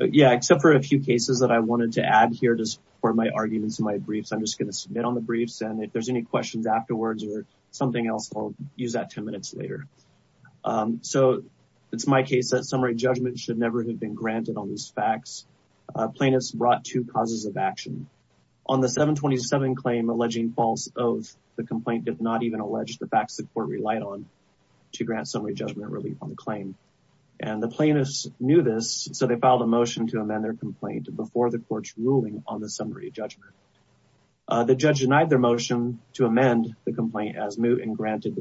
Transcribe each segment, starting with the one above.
Yeah, except for a few cases that I wanted to add here to support my arguments in my briefs. I'm just going to submit on the briefs and if there's any questions afterwards or something else I'll use that 10 minutes later. So it's my case that summary judgment should never have been granted on these facts. Plaintiffs brought two causes of action. On the 727 claim alleging false of the complaint did not even allege the facts the court relied on to grant summary judgment relief on the claim. The plaintiffs knew this, so they filed a motion to amend their complaint before the court's ruling on the summary judgment. The judge denied their motion to amend the complaint as moot and granted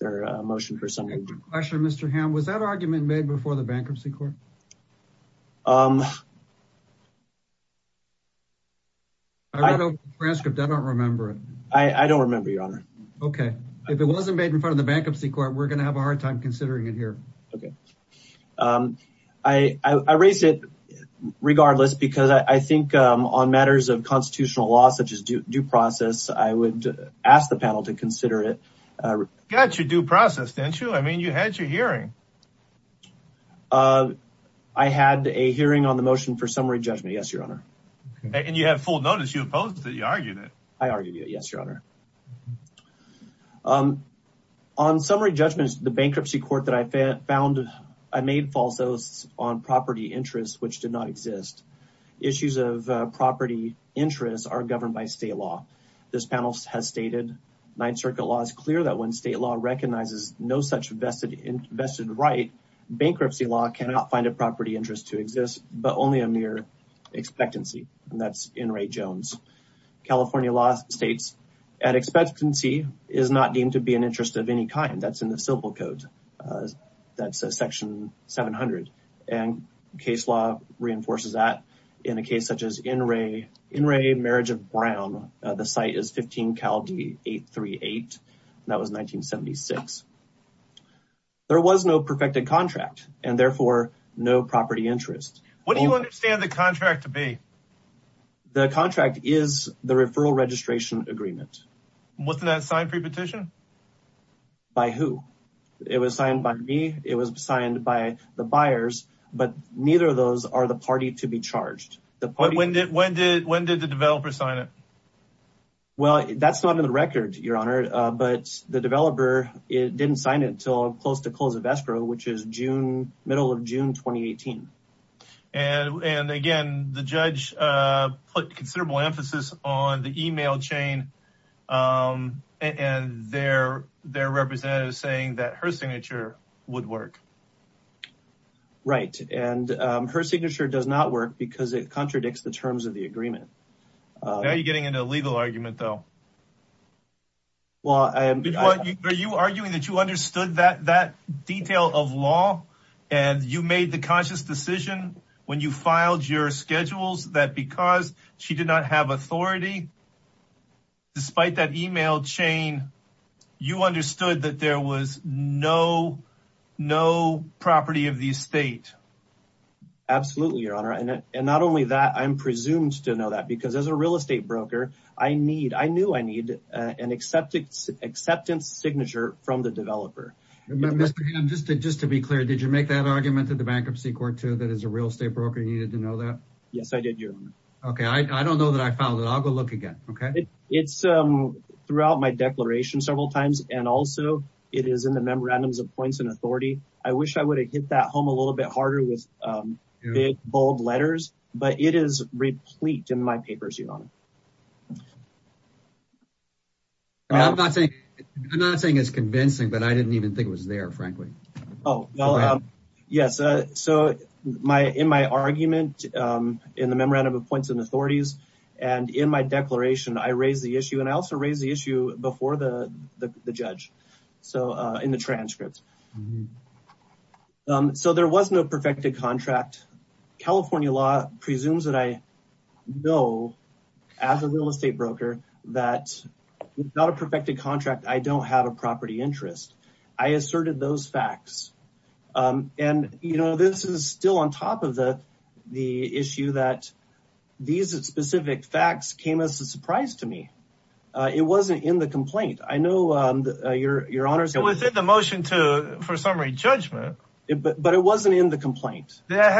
their motion for summary judgment. Question Mr. Hamm, was that argument made before the bankruptcy court? I read over the transcript, I don't remember it. I don't remember your honor. Okay, if it wasn't made in front of the bankruptcy court, we're going to have a hard time considering it here. Okay. I raised it regardless because I think on matters of constitutional law such as due process I would ask the panel to consider it. Got your due process didn't you? I mean you had your hearing. I had a hearing on the motion for summary judgment, yes your honor. And you had full notice, you opposed it, you argued it. I argued it, yes your honor. On summary judgments, the bankruptcy court that I found, I made false oasts on property interests which did not exist. Issues of property interests are governed by state law. This panel has stated, Ninth Circuit law is clear that when state law recognizes no such vested right, bankruptcy law cannot find a property interest to exist but only a mere expectancy. And that's N. Ray Jones. California law states, an expectancy is not deemed to be an interest of any kind. That's in the civil code. That's section 700. And case law reinforces that in a case such as N. Ray, marriage of Brown. The site is 15 Cal D 838, that was 1976. There was no perfected contract and therefore no property interest. What do you understand the contract to be? The contract is the referral registration agreement. Wasn't that signed pre-petition? By who? It was signed by me, it was signed by the buyers, but neither of those are the party to be charged. When did the developer sign it? Well that's not on the record your honor, but the developer didn't sign it until close to close of escrow which is June, middle of June 2018. And again, the judge put considerable emphasis on the email chain and their representative saying that her signature would work. Right, and her signature does not work because it contradicts the terms of the agreement. Now you're getting into a legal argument though. Well, I am. Are you arguing that you understood that detail of law? And you made the conscious decision when you filed your schedules that because she did not have authority, despite that email chain, you understood that there was no property of the estate? Absolutely your honor, and not only that, I'm presumed to know that because as a real estate broker, I knew I need an acceptance signature from the developer. Mr. Hamm, just to be clear, did you make that argument at the bankruptcy court too that as a real estate broker you needed to know that? Yes I did your honor. Okay, I don't know that I filed it, I'll go look again, okay? It's throughout my declaration several times, and also it is in the memorandums of points and authority. I wish I would have hit that home a little bit harder with big bold letters, but it is replete in my papers your honor. I'm not saying it's convincing, but I didn't even think it was there frankly. Oh well, yes, so in my argument in the memorandum of points and authorities, and in my declaration, I raised the issue, and I also raised the issue before the judge, so in the transcripts. So there was no perfected contract. California law presumes that I know as a real estate broker that without a perfected contract I don't have a property interest. I asserted those facts, and you know this is still on top of the issue that these specific facts came as a surprise to me. It wasn't in the complaint. I know your honor said it was in the motion for summary judgment, but it wasn't in the complaint. That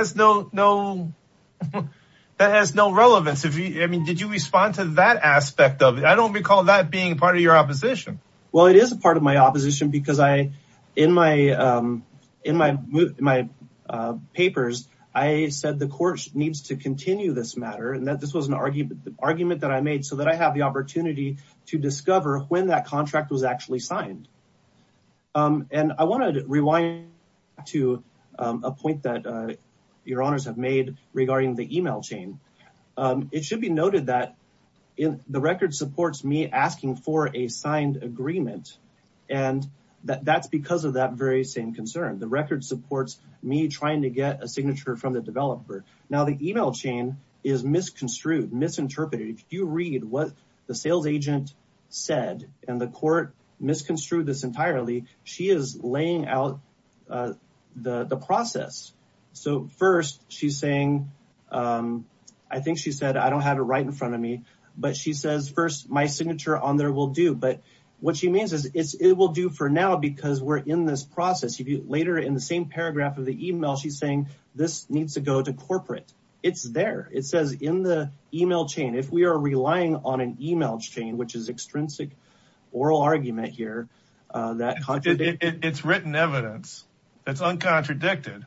has no relevance. I mean, did you respond to that aspect of it? I don't recall that being part of your opposition. Well, it is a part of my opposition because in my papers, I said the court needs to continue this matter, and that this was an argument that I made so that I have the opportunity to discover when that contract was actually signed, and I wanted to rewind to a point that your honors have made regarding the email chain. It should be noted that the record supports me asking for a signed agreement, and that's because of that very same concern. The record supports me trying to get a signature from the developer. Now the email chain is misconstrued, misinterpreted. If you read what the sales agent said and the court misconstrued this entirely, she is laying out the process. So first she's saying, I think she said, I don't have it right in front of me, but she says first my signature on there will do. But what she means is it will do for now because we're in this process. Later in the same paragraph of the email, she's saying this needs to go to corporate. It's there. It says in the email chain. If we are relying on an email chain, which is extrinsic oral argument here, that it's written evidence that's uncontradicted,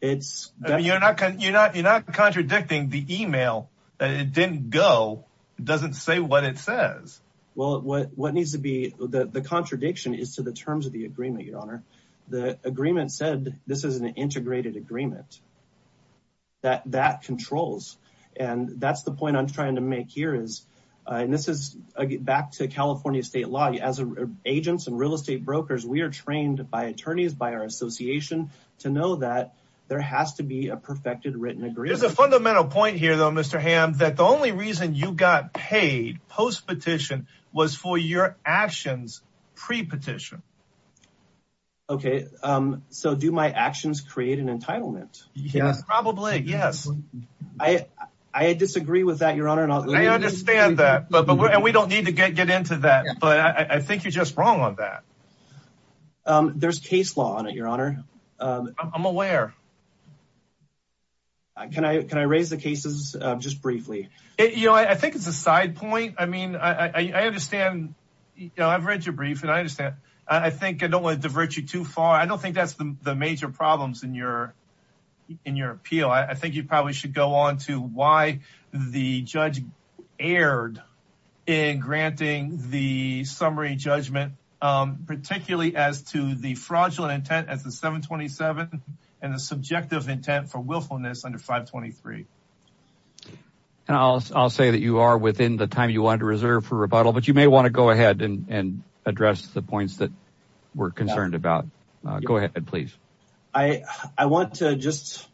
it's you're not, you're not, you're not contradicting the email that it didn't go. Doesn't say what it says. Well, what, what needs to be the contradiction is to the terms of the agreement, your honor, the agreement said this is an integrated agreement that that controls. And that's the point I'm trying to make here is, and this is back to California state law as agents and real estate brokers. We are trained by attorneys, by our association to know that there has to be a perfected written agreement. There's a fundamental point here though, Mr. Ham, that the only reason you got paid post petition was for your actions pre petition. Okay. So do my actions create an entitlement? Yes, probably. Yes. I, I disagree with that, your honor, and I understand that, but, but we're, and we don't need to get, get into that, but I think you're just wrong on that. There's case law on it. Your honor. I'm aware. Can I, can I raise the cases just briefly? You know, I think it's a side point. I mean, I understand, you know, I've read your brief and I understand. I think I don't want to divert you too far. I don't think that's the major problems in your, in your appeal. I think you probably should go on to why the judge erred in granting the summary judgment, particularly as to the fraudulent intent as the 727 and the subjective intent for willfulness under 523. And I'll, I'll say that you are within the time you wanted to reserve for rebuttal, but you may want to go ahead and address the points that we're concerned about. Go ahead, please. I want to just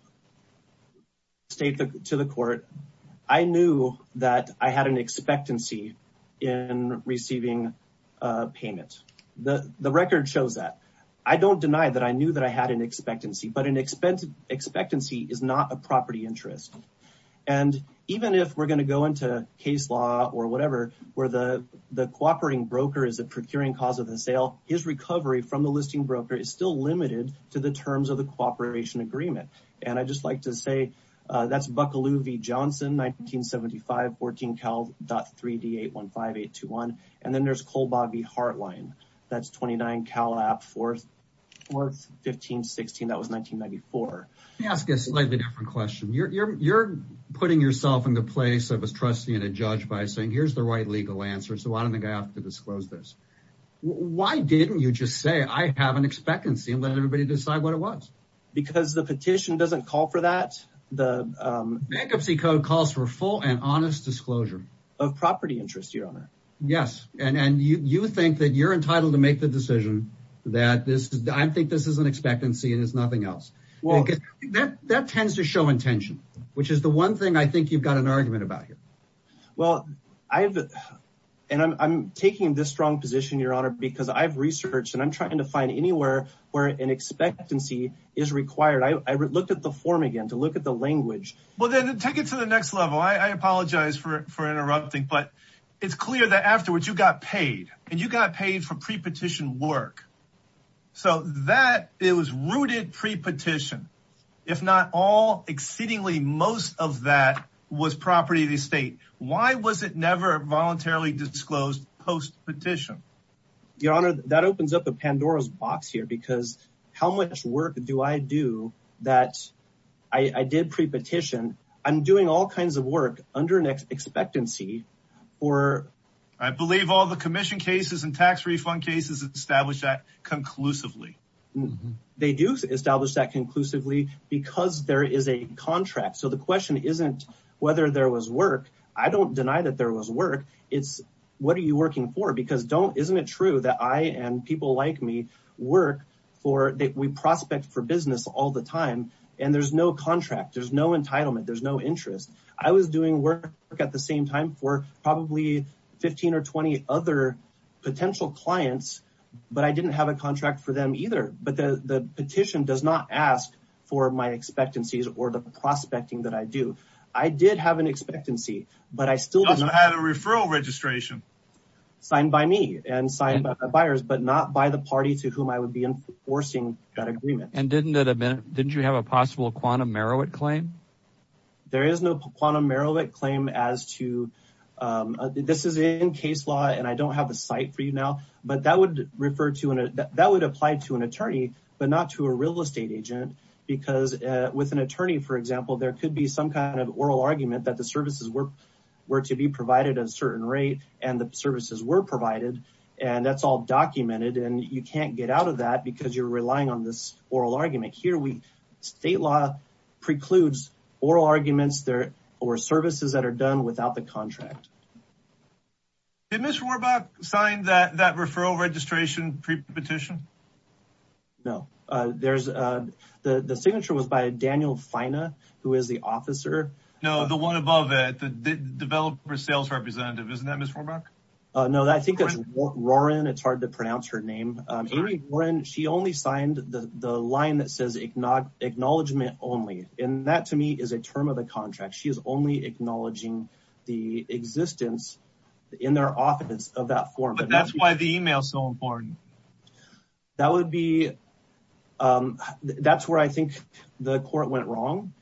state to the court, I knew that I had an expectancy in receiving a payment. The record shows that. I don't deny that. I knew that I had an expectancy, but an expectancy is not a property interest. And even if we're going to go into case law or whatever, where the, the cooperating broker is a procuring cause of the sale, his recovery from the listing broker is still limited to the terms of the cooperation agreement. And I just like to say that's Bucklew v. Johnson, 1975, 14 Cal.3D815821. And then there's Colbaugh v. Hartline. That's 29 Cal. App. 41516. That was 1994. Let me ask a slightly different question. You're putting yourself in the place of a trustee and a judge by saying, here's the right legal answer. So I don't think I have to disclose this. Why didn't you just say, I have an expectancy and let everybody decide what it was? Because the petition doesn't call for that. The bankruptcy code calls for full and honest disclosure of property interest, your honor. Yes. And you think that you're entitled to make the decision that this, I think this is an expectancy and it's nothing else. That tends to show intention, which is the one thing I think you've got an argument about here. Well, I've, and I'm taking this strong position, your honor, because I've researched and I'm trying to find anywhere where an expectancy is required. I looked at the form again to look at the language. Well then take it to the next level. I apologize for interrupting, but it's clear that afterwards you got paid and you got paid for pre-petition work. So that it was rooted pre-petition, if not all exceedingly, most of that was property of the state. Why was it never voluntarily disclosed post petition? Your honor that opens up a Pandora's box here because how much work do I do that I did pre-petition? I'm doing all kinds of work under an expectancy or I believe all the commission cases and tax refund cases established that conclusively. They do establish that conclusively because there is a contract. So the question isn't whether there was work. I don't deny that there was work. It's what are you working for? Because don't, isn't it true that I, and people like me work for, that we prospect for business all the time and there's no contract. There's no entitlement. There's no interest. I was doing work at the same time for probably 15 or 20 other potential clients, but I didn't have a contract for them either. But the petition does not ask for my expectancies or the prospecting that I do. I did have an expectancy, but I still didn't have a referral registration signed by me and signed by my buyers, but not by the party to whom I would be enforcing that agreement. And didn't that have been, didn't you have a possible quantum Meroweth claim? There is no quantum Meroweth claim as to this is in case law and I don't have a site for you now, but that would refer to an, that would apply to an attorney, but not to a real estate agent because with an attorney, for example, there could be some kind of oral argument that the services were, were to be provided at a certain rate and the services were provided and that's all documented and you can't get out of that because you're relying on this oral argument here. We state law precludes oral arguments there or services that are done without the contract. Did Ms. Rohrbach sign that, that referral registration pre-petition? No, there's a, the, the signature was by Daniel Fina, who is the officer. No, the one above it, the developer sales representative, isn't that Ms. Rohrbach? No, I think that's Rorin, it's hard to pronounce her name. Amy Rorin, she only signed the line that says acknowledgement only. And that to me is a term of the contract. She is only acknowledging the existence in their office of that form. But that's why the email is so important. That would be, that's where I think the court went wrong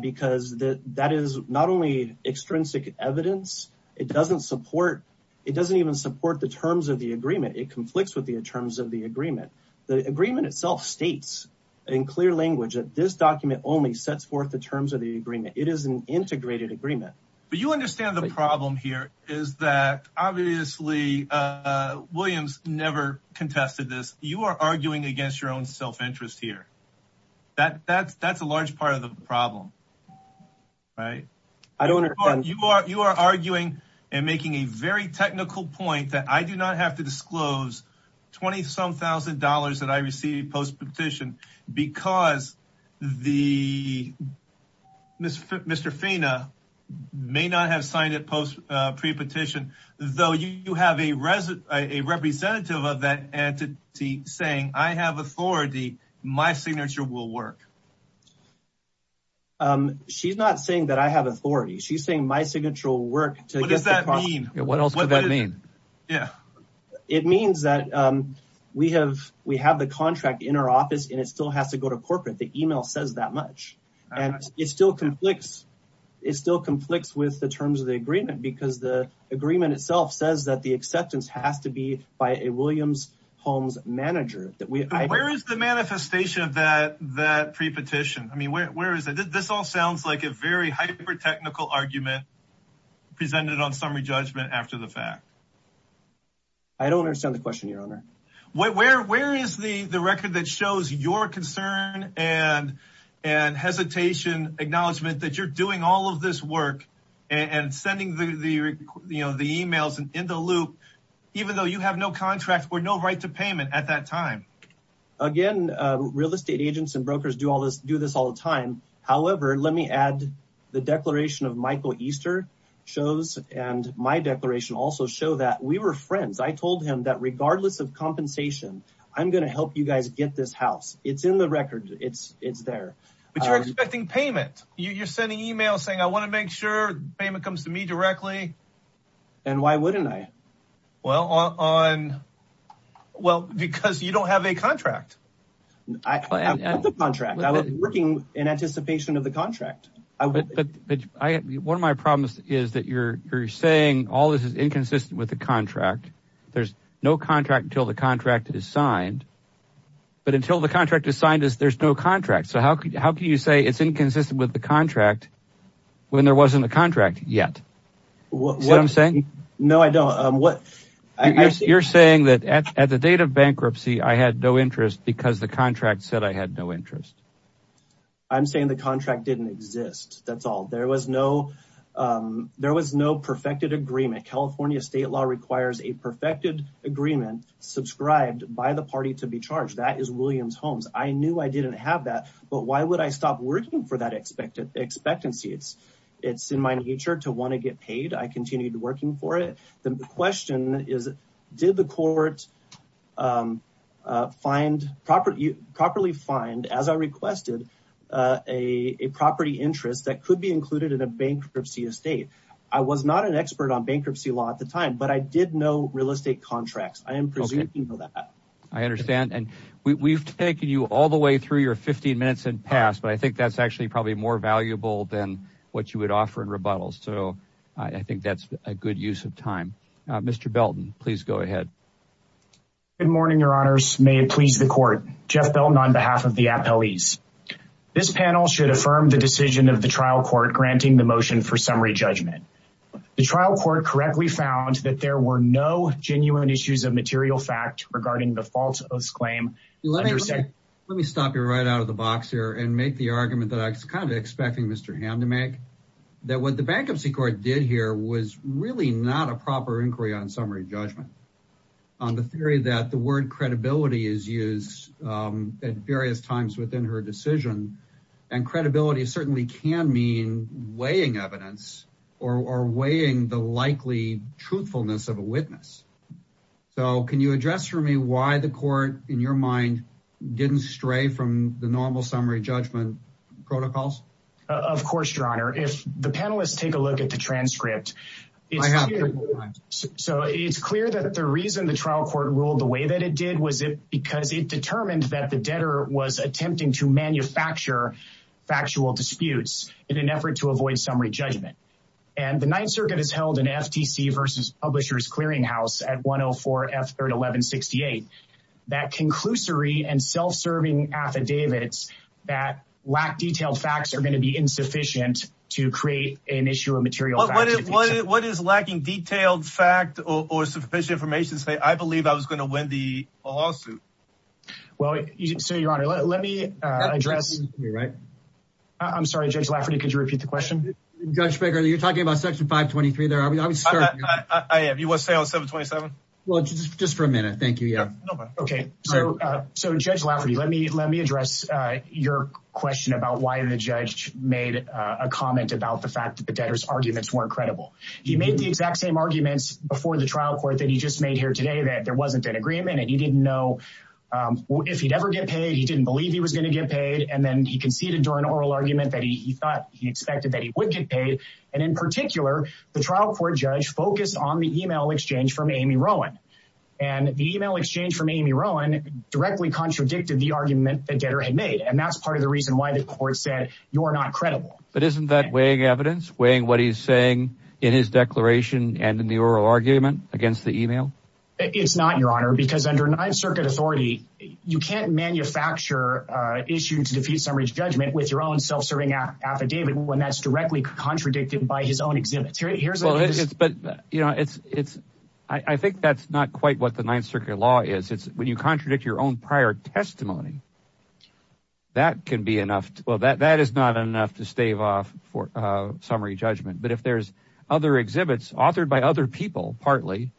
because that is not only extrinsic evidence, it doesn't support, it doesn't even support the terms of the agreement. It conflicts with the terms of the agreement. The agreement itself states in clear language that this document only sets forth the terms of the agreement. It is an integrated agreement. But you understand the problem here is that obviously Williams never contested this. You are arguing against your own self-interest here. That, that's, that's a large part of the problem, right? I don't understand. You are, you are arguing and making a very technical point that I do not have to disclose $20,000 that I received post petition because the Mr. Fina may not have signed it post pre-petition. Though you have a resident, a representative of that entity saying I have authority. My signature will work. She's not saying that I have authority. She's saying my signature will work. What does that mean? Yeah. What else would that mean? Yeah. It means that we have, we have the contract in our office and it still has to go to corporate. The email says that much and it still conflicts. It still conflicts with the terms of the agreement because the agreement itself says that the acceptance has to be by a Williams Holmes manager. Where is the manifestation of that, that pre-petition? I mean, where, where is it? This all sounds like a very hyper-technical argument presented on summary judgment after the fact. I don't understand the question, your honor. Where, where, where is the, the record that shows your concern and, and hesitation acknowledgement that you're doing all of this work and sending the, the, you know, the emails and in the loop, even though you have no contract or no right to payment at that time. Again, real estate agents and brokers do all this, do this all the time. However, let me add the declaration of Michael Easter shows. And my declaration also show that we were friends. I told him that regardless of compensation, I'm going to help you guys get this house. It's in the record. It's, it's there. But you're expecting payment. You're sending emails saying, I want to make sure payment comes to me directly. And why wouldn't I? Well, on, well, because you don't have a contract. I have the contract. I was working in anticipation of the contract. One of my problems is that you're, you're saying all this is inconsistent with the contract. There's no contract until the contract is signed. But until the contract is signed is there's no contract. So how could, how can you say it's inconsistent with the contract when there wasn't a contract yet? See what I'm saying? No, I don't. Um, what you're saying that at the date of bankruptcy, I had no interest because the contract said I had no interest. I'm saying the contract didn't exist. That's all. There was no, um, there was no perfected agreement. California state law requires a perfected agreement subscribed by the party to be charged. That is Williams homes. I knew I didn't have that, but why would I stop working for that expected expectancy? It's, it's in my nature to want to get paid. I continued working for it. Then the question is, did the court, um, uh, find property properly find as I requested, uh, a, a property interest that could be included in a bankruptcy estate. I was not an expert on bankruptcy law at the time, but I did know real estate contracts. I am presuming that I understand. And we we've taken you all the way through your 15 minutes and pass, but I think that's actually probably more valuable than what you would offer in rebuttals. So I think that's a good use of time. Uh, Mr. Belton, please go ahead. Good morning. Your honors. May it please the court. Jeff Belton on behalf of the appellees. This panel should affirm the decision of the trial court granting the motion for summary judgment. The trial court correctly found that there were no genuine issues of material fact regarding the faults of this claim. Let me stop you right out of the box here and make the argument that I was kind of expecting Mr. Ham to make that what the bankruptcy court did here was really not a proper inquiry on summary judgment on the theory that the word credibility is used, um, at various times within her decision and credibility certainly can mean weighing evidence or, or weighing the likely truthfulness of a witness. So can you address for me why the court in your mind didn't stray from the normal summary judgment protocols? Of course, your honor. If the panelists take a look at the transcript, so it's clear that the reason the trial court ruled the way that it did, was it because it determined that the debtor was attempting to manufacture factual disputes in an effort to avoid summary judgment. And the ninth circuit has held an FTC versus publishers clearing house at one Oh four F serving affidavits that lack detailed facts are going to be insufficient to create an issue of material. What is lacking detailed fact or sufficient information to say, I believe I was going to win the lawsuit. Well, so your honor, let me address. You're right. I'm sorry. Judge Lafferty. Could you repeat the question? Judge Baker, you're talking about section five 23 there. I would start. I am. You want to stay on seven 27? Well, just for a minute. Thank you. Yeah. Okay. So, so judge Lafferty, let me, let me address your question about why the judge made a comment about the fact that the debtors arguments weren't credible. He made the exact same arguments before the trial court that he just made here today that there wasn't an agreement and he didn't know if he'd ever get paid. He didn't believe he was going to get paid. And then he conceded during oral argument that he thought he expected that he would get paid. And in particular, the trial court judge focused on the email exchange from Amy Rowan and the email exchange from Amy Rowan directly contradicted the argument that debtor had made. And that's part of the reason why the court said you are not credible. But isn't that weighing evidence, weighing what he's saying in his declaration and in the oral argument against the email? It's not your honor, because under ninth circuit authority, you can't manufacture issued to defeat summary judgment with your own self-serving affidavit when that's directly contradicted by his own exhibits. Here's what it is. But, you know, it's it's I think that's not quite what the ninth circuit law is. It's when you contradict your own prior testimony, that can be enough. Well, that that is not enough to stave off for summary judgment. But if there's other exhibits authored by other people, partly,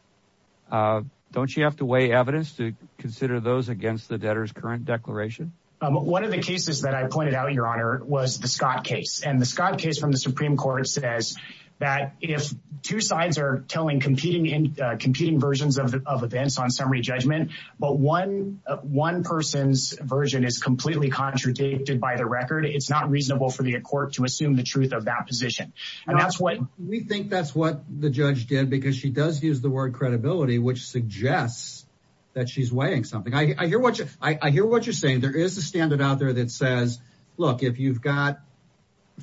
don't you have to weigh evidence to consider those against the debtor's current declaration? One of the cases that I pointed out, your honor, was the Scott case and the Scott case from the Supreme Court says that if two sides are telling competing and competing versions of events on summary judgment, but one one person's version is completely contradicted by the record, it's not reasonable for the court to assume the truth of that position. And that's what we think. That's what the judge did, because she does use the word credibility, which suggests that she's weighing something. I hear what I hear what you're saying. There is a standard out there that says, look, if you've got,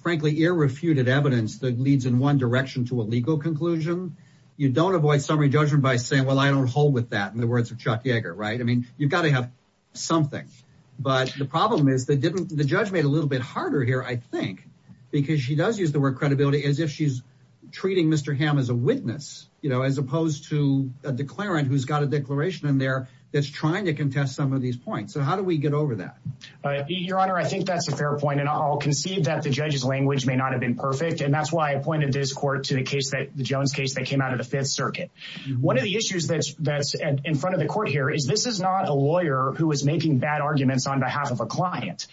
frankly, irrefuted evidence that leads in one direction to a legal conclusion, you don't avoid summary judgment by saying, well, I don't hold with that. In the words of Chuck Yeager. Right. I mean, you've got to have something. But the problem is that didn't the judge made a little bit harder here, I think, because she does use the word credibility as if she's treating Mr. Ham as a witness, you know, as opposed to a declarant who's got a declaration in there that's trying to contest some of these points. So how do we get over that? Your Honor, I think that's a fair point. And I'll concede that the judge's language may not have been perfect. And that's why I appointed this court to the case that the Jones case that came out of the Fifth Circuit. One of the issues that's that's in front of the court here is this is not a lawyer who is making bad arguments on behalf of a client.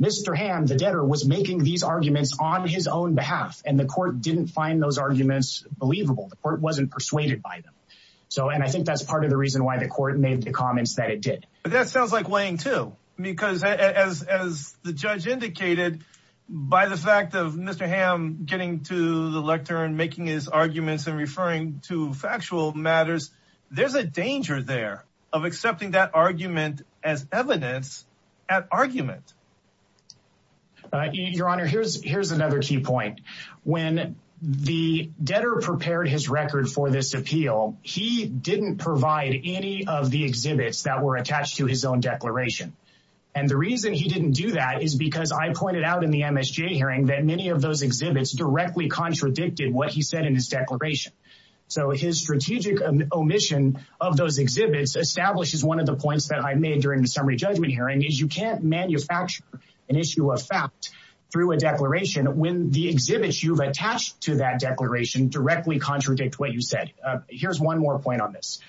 Mr. Ham, the debtor, was making these arguments on his own behalf. And the court didn't find those arguments believable. The court wasn't persuaded by them. So and I think that's part of the reason why the court made the comments that it did. But that sounds like weighing, too, because as the judge indicated, by the fact of Mr. Ham getting to the lectern, making his arguments and referring to factual matters, there's a danger there of accepting that argument as evidence at argument. Your Honor, here's here's another key point. When the debtor prepared his record for this appeal, he didn't provide any of the exhibits that were attached to his own declaration. And the reason he didn't do that is because I pointed out in the MSJ hearing that many of those exhibits directly contradicted what he said in his declaration. So his strategic omission of those exhibits establishes one of the points that I made during the summary judgment hearing is you can't manufacture an issue of fact through a declaration when the exhibits you've attached to that declaration directly contradict what you said. Here's one more point on this.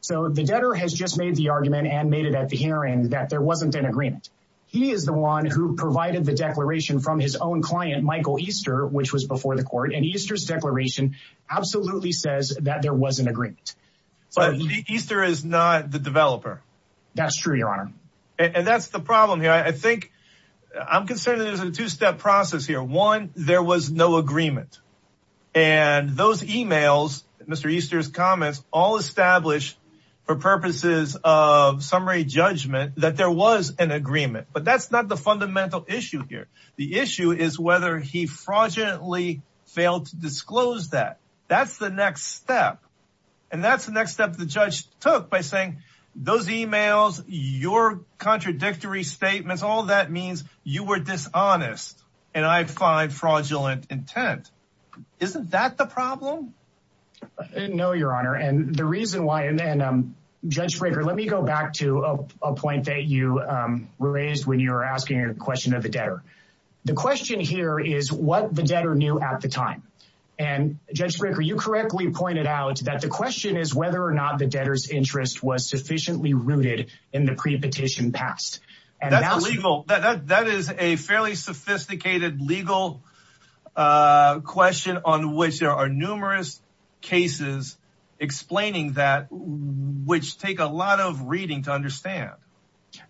So the debtor has just made the argument and made it at the hearing that there wasn't an agreement. He is the one who provided the declaration from his own client, Michael Easter, which was before the court. And Easter's declaration absolutely says that there was an agreement. But Easter is not the developer. That's true, Your Honor. And that's the problem here. I think I'm concerned that there's a two step process here. One, there was no agreement. And those emails, Mr. Easter's comments, all established for purposes of summary judgment that there was an agreement. But that's not the fundamental issue here. The issue is whether he fraudulently failed to disclose that. That's the next step. And that's the next step the judge took by saying those emails, your contradictory statements, all that means you were dishonest and I find fraudulent intent. Isn't that the problem? No, Your Honor. And the reason why and then Judge Fraker, let me go back to a point that you raised when you were asking a question of the debtor. The question here is what the debtor knew at the time. And Judge Fraker, you correctly pointed out that the question is whether or not the debtor's interest was sufficiently rooted in the prepetition past. That is a fairly sophisticated legal question on which there are numerous cases explaining that which take a lot of reading to understand.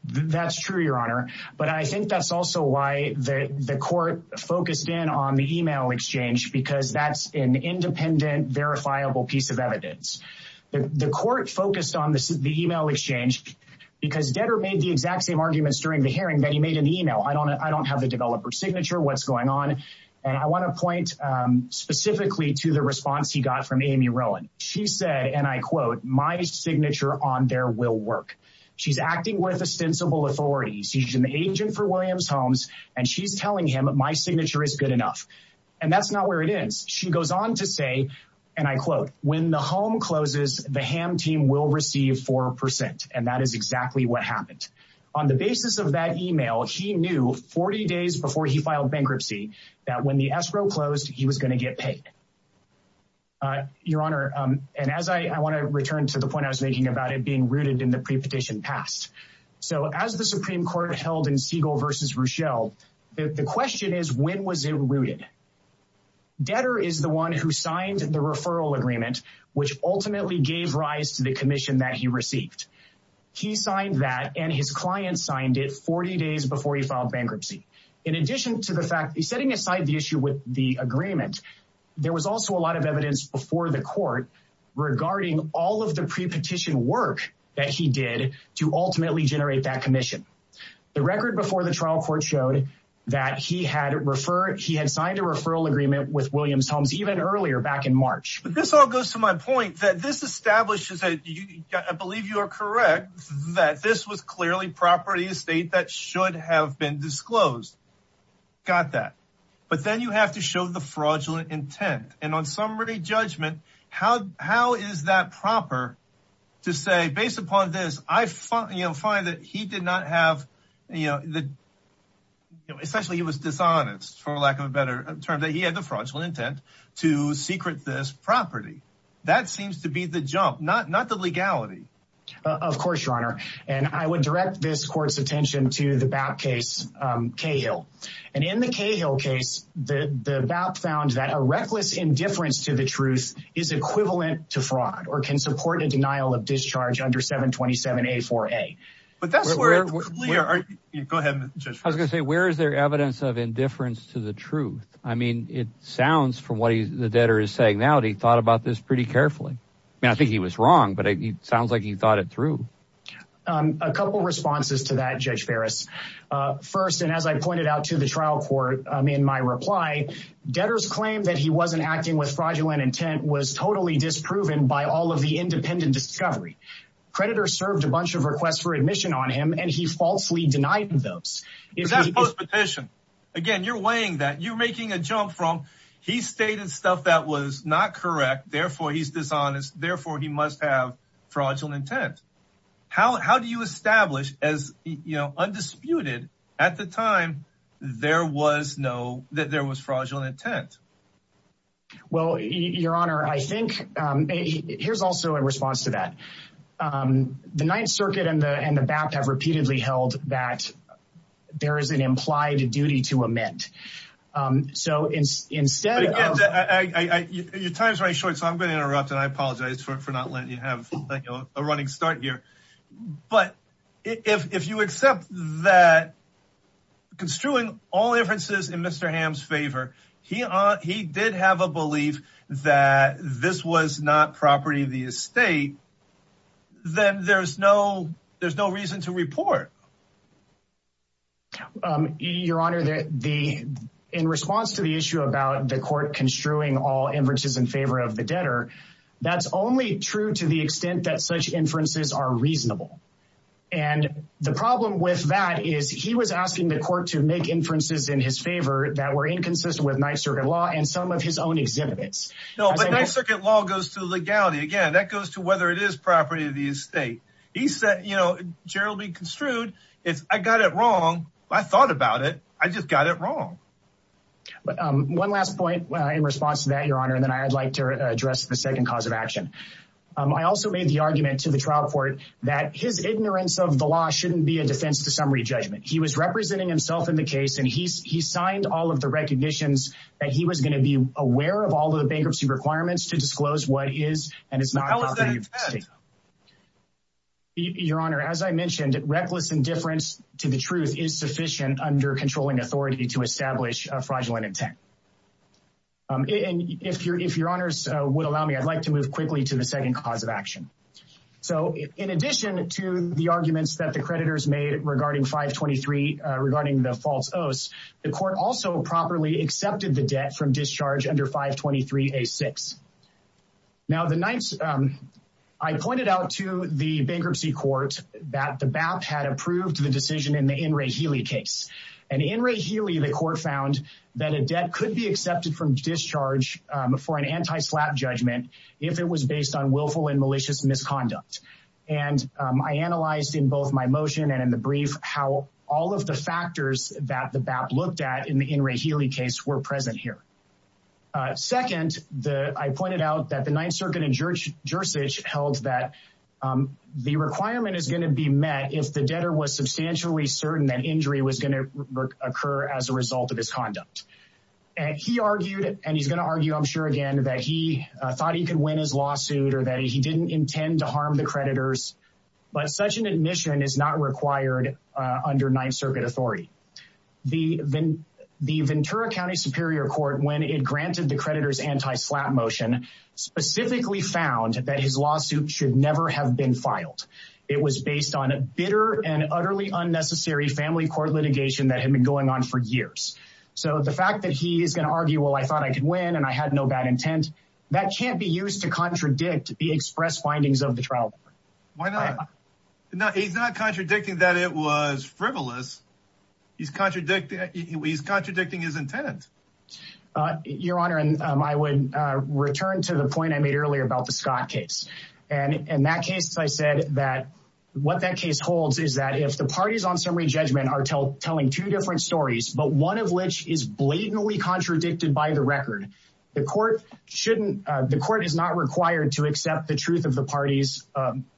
That's true, Your Honor. But I think that's also why the court focused in on the email exchange because that's an independent, verifiable piece of evidence. The court focused on the email exchange because debtor made the exact same arguments during the hearing that he made in the email. I don't have the developer's signature. What's going on? And I want to point specifically to the response he got from Amy Rowan. She said, and I quote, my signature on there will work. She's acting with ostensible authority. She's an agent for Williams Homes and she's telling him my signature is good enough. And that's not where it ends. She goes on to say, and I quote, when the home closes, the ham team will receive 4%. And that is exactly what happened. On the basis of that email, he knew 40 days before he filed bankruptcy that when the escrow closed, he was going to get paid. Your Honor, and as I want to return to the point I was making about it being rooted in the prepetition past. So as the Supreme Court held in Siegel versus Rochelle, the question is, when was it rooted? Detter is the one who signed the referral agreement, which ultimately gave rise to the commission that he received. He signed that and his client signed it 40 days before he filed bankruptcy. In addition to the fact that he's setting aside the issue with the agreement, there was also a lot of evidence before the court regarding all of the prepetition work that he did to ultimately generate that commission. The record before the trial court showed that he had signed a referral agreement with Williams Homes even earlier back in March. But this all goes to my point that this establishes, I believe you are correct, that this was clearly property estate that should have been disclosed. Got that. But then you have to show the fraudulent intent. And on summary judgment, how is that proper to say, based upon this, I find that he did not have, you know, essentially he was dishonest, for lack of a better term, that he had the fraudulent intent to secret this property. That seems to be the jump, not the legality. Of course, Your Honor. And I would direct this court's attention to the BAP case, Cahill. And in the Cahill case, the BAP found that a reckless indifference to the truth is equivalent to fraud or can support a denial of discharge under 727A4A. But that's where... Go ahead, Judge Ferris. I was going to say, where is there evidence of indifference to the truth? I mean, it sounds from what the debtor is saying now that he thought about this pretty carefully. I mean, I think he was wrong, but it sounds like he thought it through. A couple of responses to that, Judge Ferris. First, and as I pointed out to the trial court in my reply, debtor's claim that he wasn't acting with fraudulent intent was totally disproven by all of the independent discovery. Debtor served a bunch of requests for admission on him, and he falsely denied those. Is that post-petition? Again, you're weighing that. You're making a jump from, he stated stuff that was not correct, therefore he's dishonest, therefore he must have fraudulent intent. How do you establish as, you know, undisputed at the time there was no... that there was fraudulent intent? Well, Your Honor, I think, here's also a response to that. The Ninth Circuit and the BAPT have repeatedly held that there is an implied duty to amend. So instead of... But again, your time is running short, so I'm going to interrupt, and I apologize for not letting you have a running start here. But if you accept that construing all inferences in Mr. Ham's favor, he did have a belief that this was not property of the estate, then there's no reason to report. Your Honor, in response to the issue about the court construing all inferences in favor of the debtor, that's only true to the extent that such inferences are reasonable. And the problem with that is he was asking the court to make inferences in his favor that were inconsistent with Ninth Circuit law and some of his own exhibits. No, but Ninth Circuit law goes to legality. Again, that goes to whether it is property of the estate. He said, you know, generally construed, it's, I got it wrong. I thought about it. I just got it wrong. But one last point in response to that, Your Honor, and then I'd like to address the second cause of action. I also made the argument to the trial court that his ignorance of the law shouldn't be a defense to summary judgment. He was representing himself in the case, and he signed all of the recognitions that he was going to be aware of all of the bankruptcy requirements to disclose what is and is not property of the estate. How is that fair? Your Honor, as I mentioned, reckless indifference to the truth is sufficient under controlling authority to establish a fraudulent intent. And if Your Honor's would allow me, I'd like to move quickly to the second cause of action. So in addition to the arguments that the creditors made regarding 523 regarding the false oaths, the court also properly accepted the debt from discharge under 523-A-6. Now, the ninth, I pointed out to the bankruptcy court that the BAP had approved the decision in the N. Ray Healy case. And in Ray Healy, the court found that a debt could be accepted from discharge for an anti-slap judgment if it was based on willful and malicious misconduct. And I analyzed in both my motion and in the brief how all of the factors that the BAP looked at in the N. Ray Healy case were present here. Second, I pointed out that the Ninth Circuit in Jersey held that the requirement is going to be met if the debtor was substantially certain that injury was going to occur as a result of his conduct. And he argued, and he's going to argue, I'm sure, again, that he thought he could win his lawsuit or that he didn't intend to harm the creditors. But such an admission is not required under Ninth Circuit authority. The Ventura County Superior Court, when it granted the creditors anti-slap motion, specifically found that his lawsuit should never have been filed. It was based on a bitter and utterly unnecessary family court litigation that had been going on for years. So the fact that he is going to argue, well, I thought I could win and I had no bad intent, that can't be used to contradict the express findings of the trial. Why not? He's not contradicting that it was frivolous. He's contradicting his intent. Your Honor, I would return to the point I made earlier about the Scott case. And in that case, as I said, that what that case holds is that if the parties on summary judgment are telling two different stories, but one of which is blatantly contradicted by the record, the court shouldn't, the court is not required to accept the truth of the party's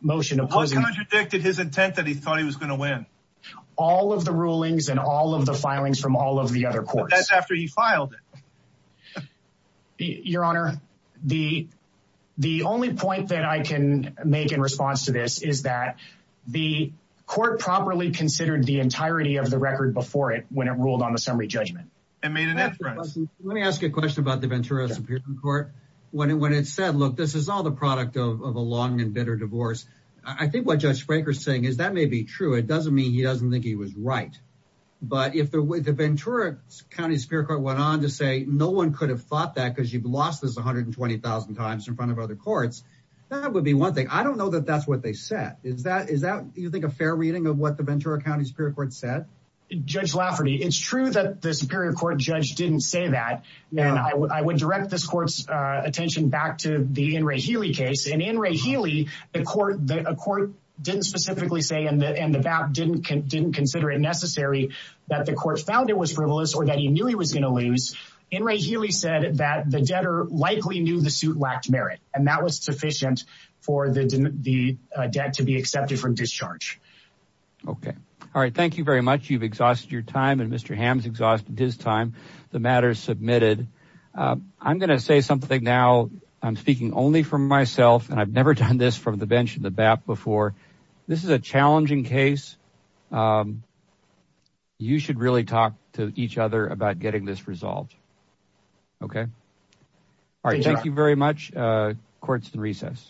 motion opposing. How contradicted his intent that he thought he was going to win? All of the rulings and all of the filings from all of the other courts. But that's after he filed it. Your Honor, the only point that I can make in response to this is that the court properly considered the entirety of the record before it, when it ruled on the summary judgment. Let me ask you a question about the Ventura Superior Court. When it said, look, this is all the product of a long and bitter divorce. I think what Judge Fraker is saying is that may be true. It doesn't mean he doesn't think he was right. But if the Ventura County Superior Court went on to say no one could have thought that because you've lost this 120,000 times in front of other courts, that would be one thing. I don't know that that's what they said. Is that is that you think a fair reading of what the Ventura County Superior Court said? Judge Lafferty, it's true that the Superior Court judge didn't say that. And I would direct this court's attention back to the in Ray Healy case. And in Ray Healy, the court that a court didn't specifically say in the end about didn't didn't consider it necessary that the court found it was frivolous or that he knew he was going to lose. In Ray Healy said that the debtor likely knew the suit lacked merit. And that was sufficient for the debt to be accepted from discharge. OK. All right. Thank you very much. You've exhausted your time and Mr. Ham's exhausted his time. The matter is submitted. I'm going to say something now. I'm speaking only for myself. And I've never done this from the bench in the back before. This is a challenging case. You should really talk to each other about getting this resolved. OK. All right. Thank you very much. Courts in recess.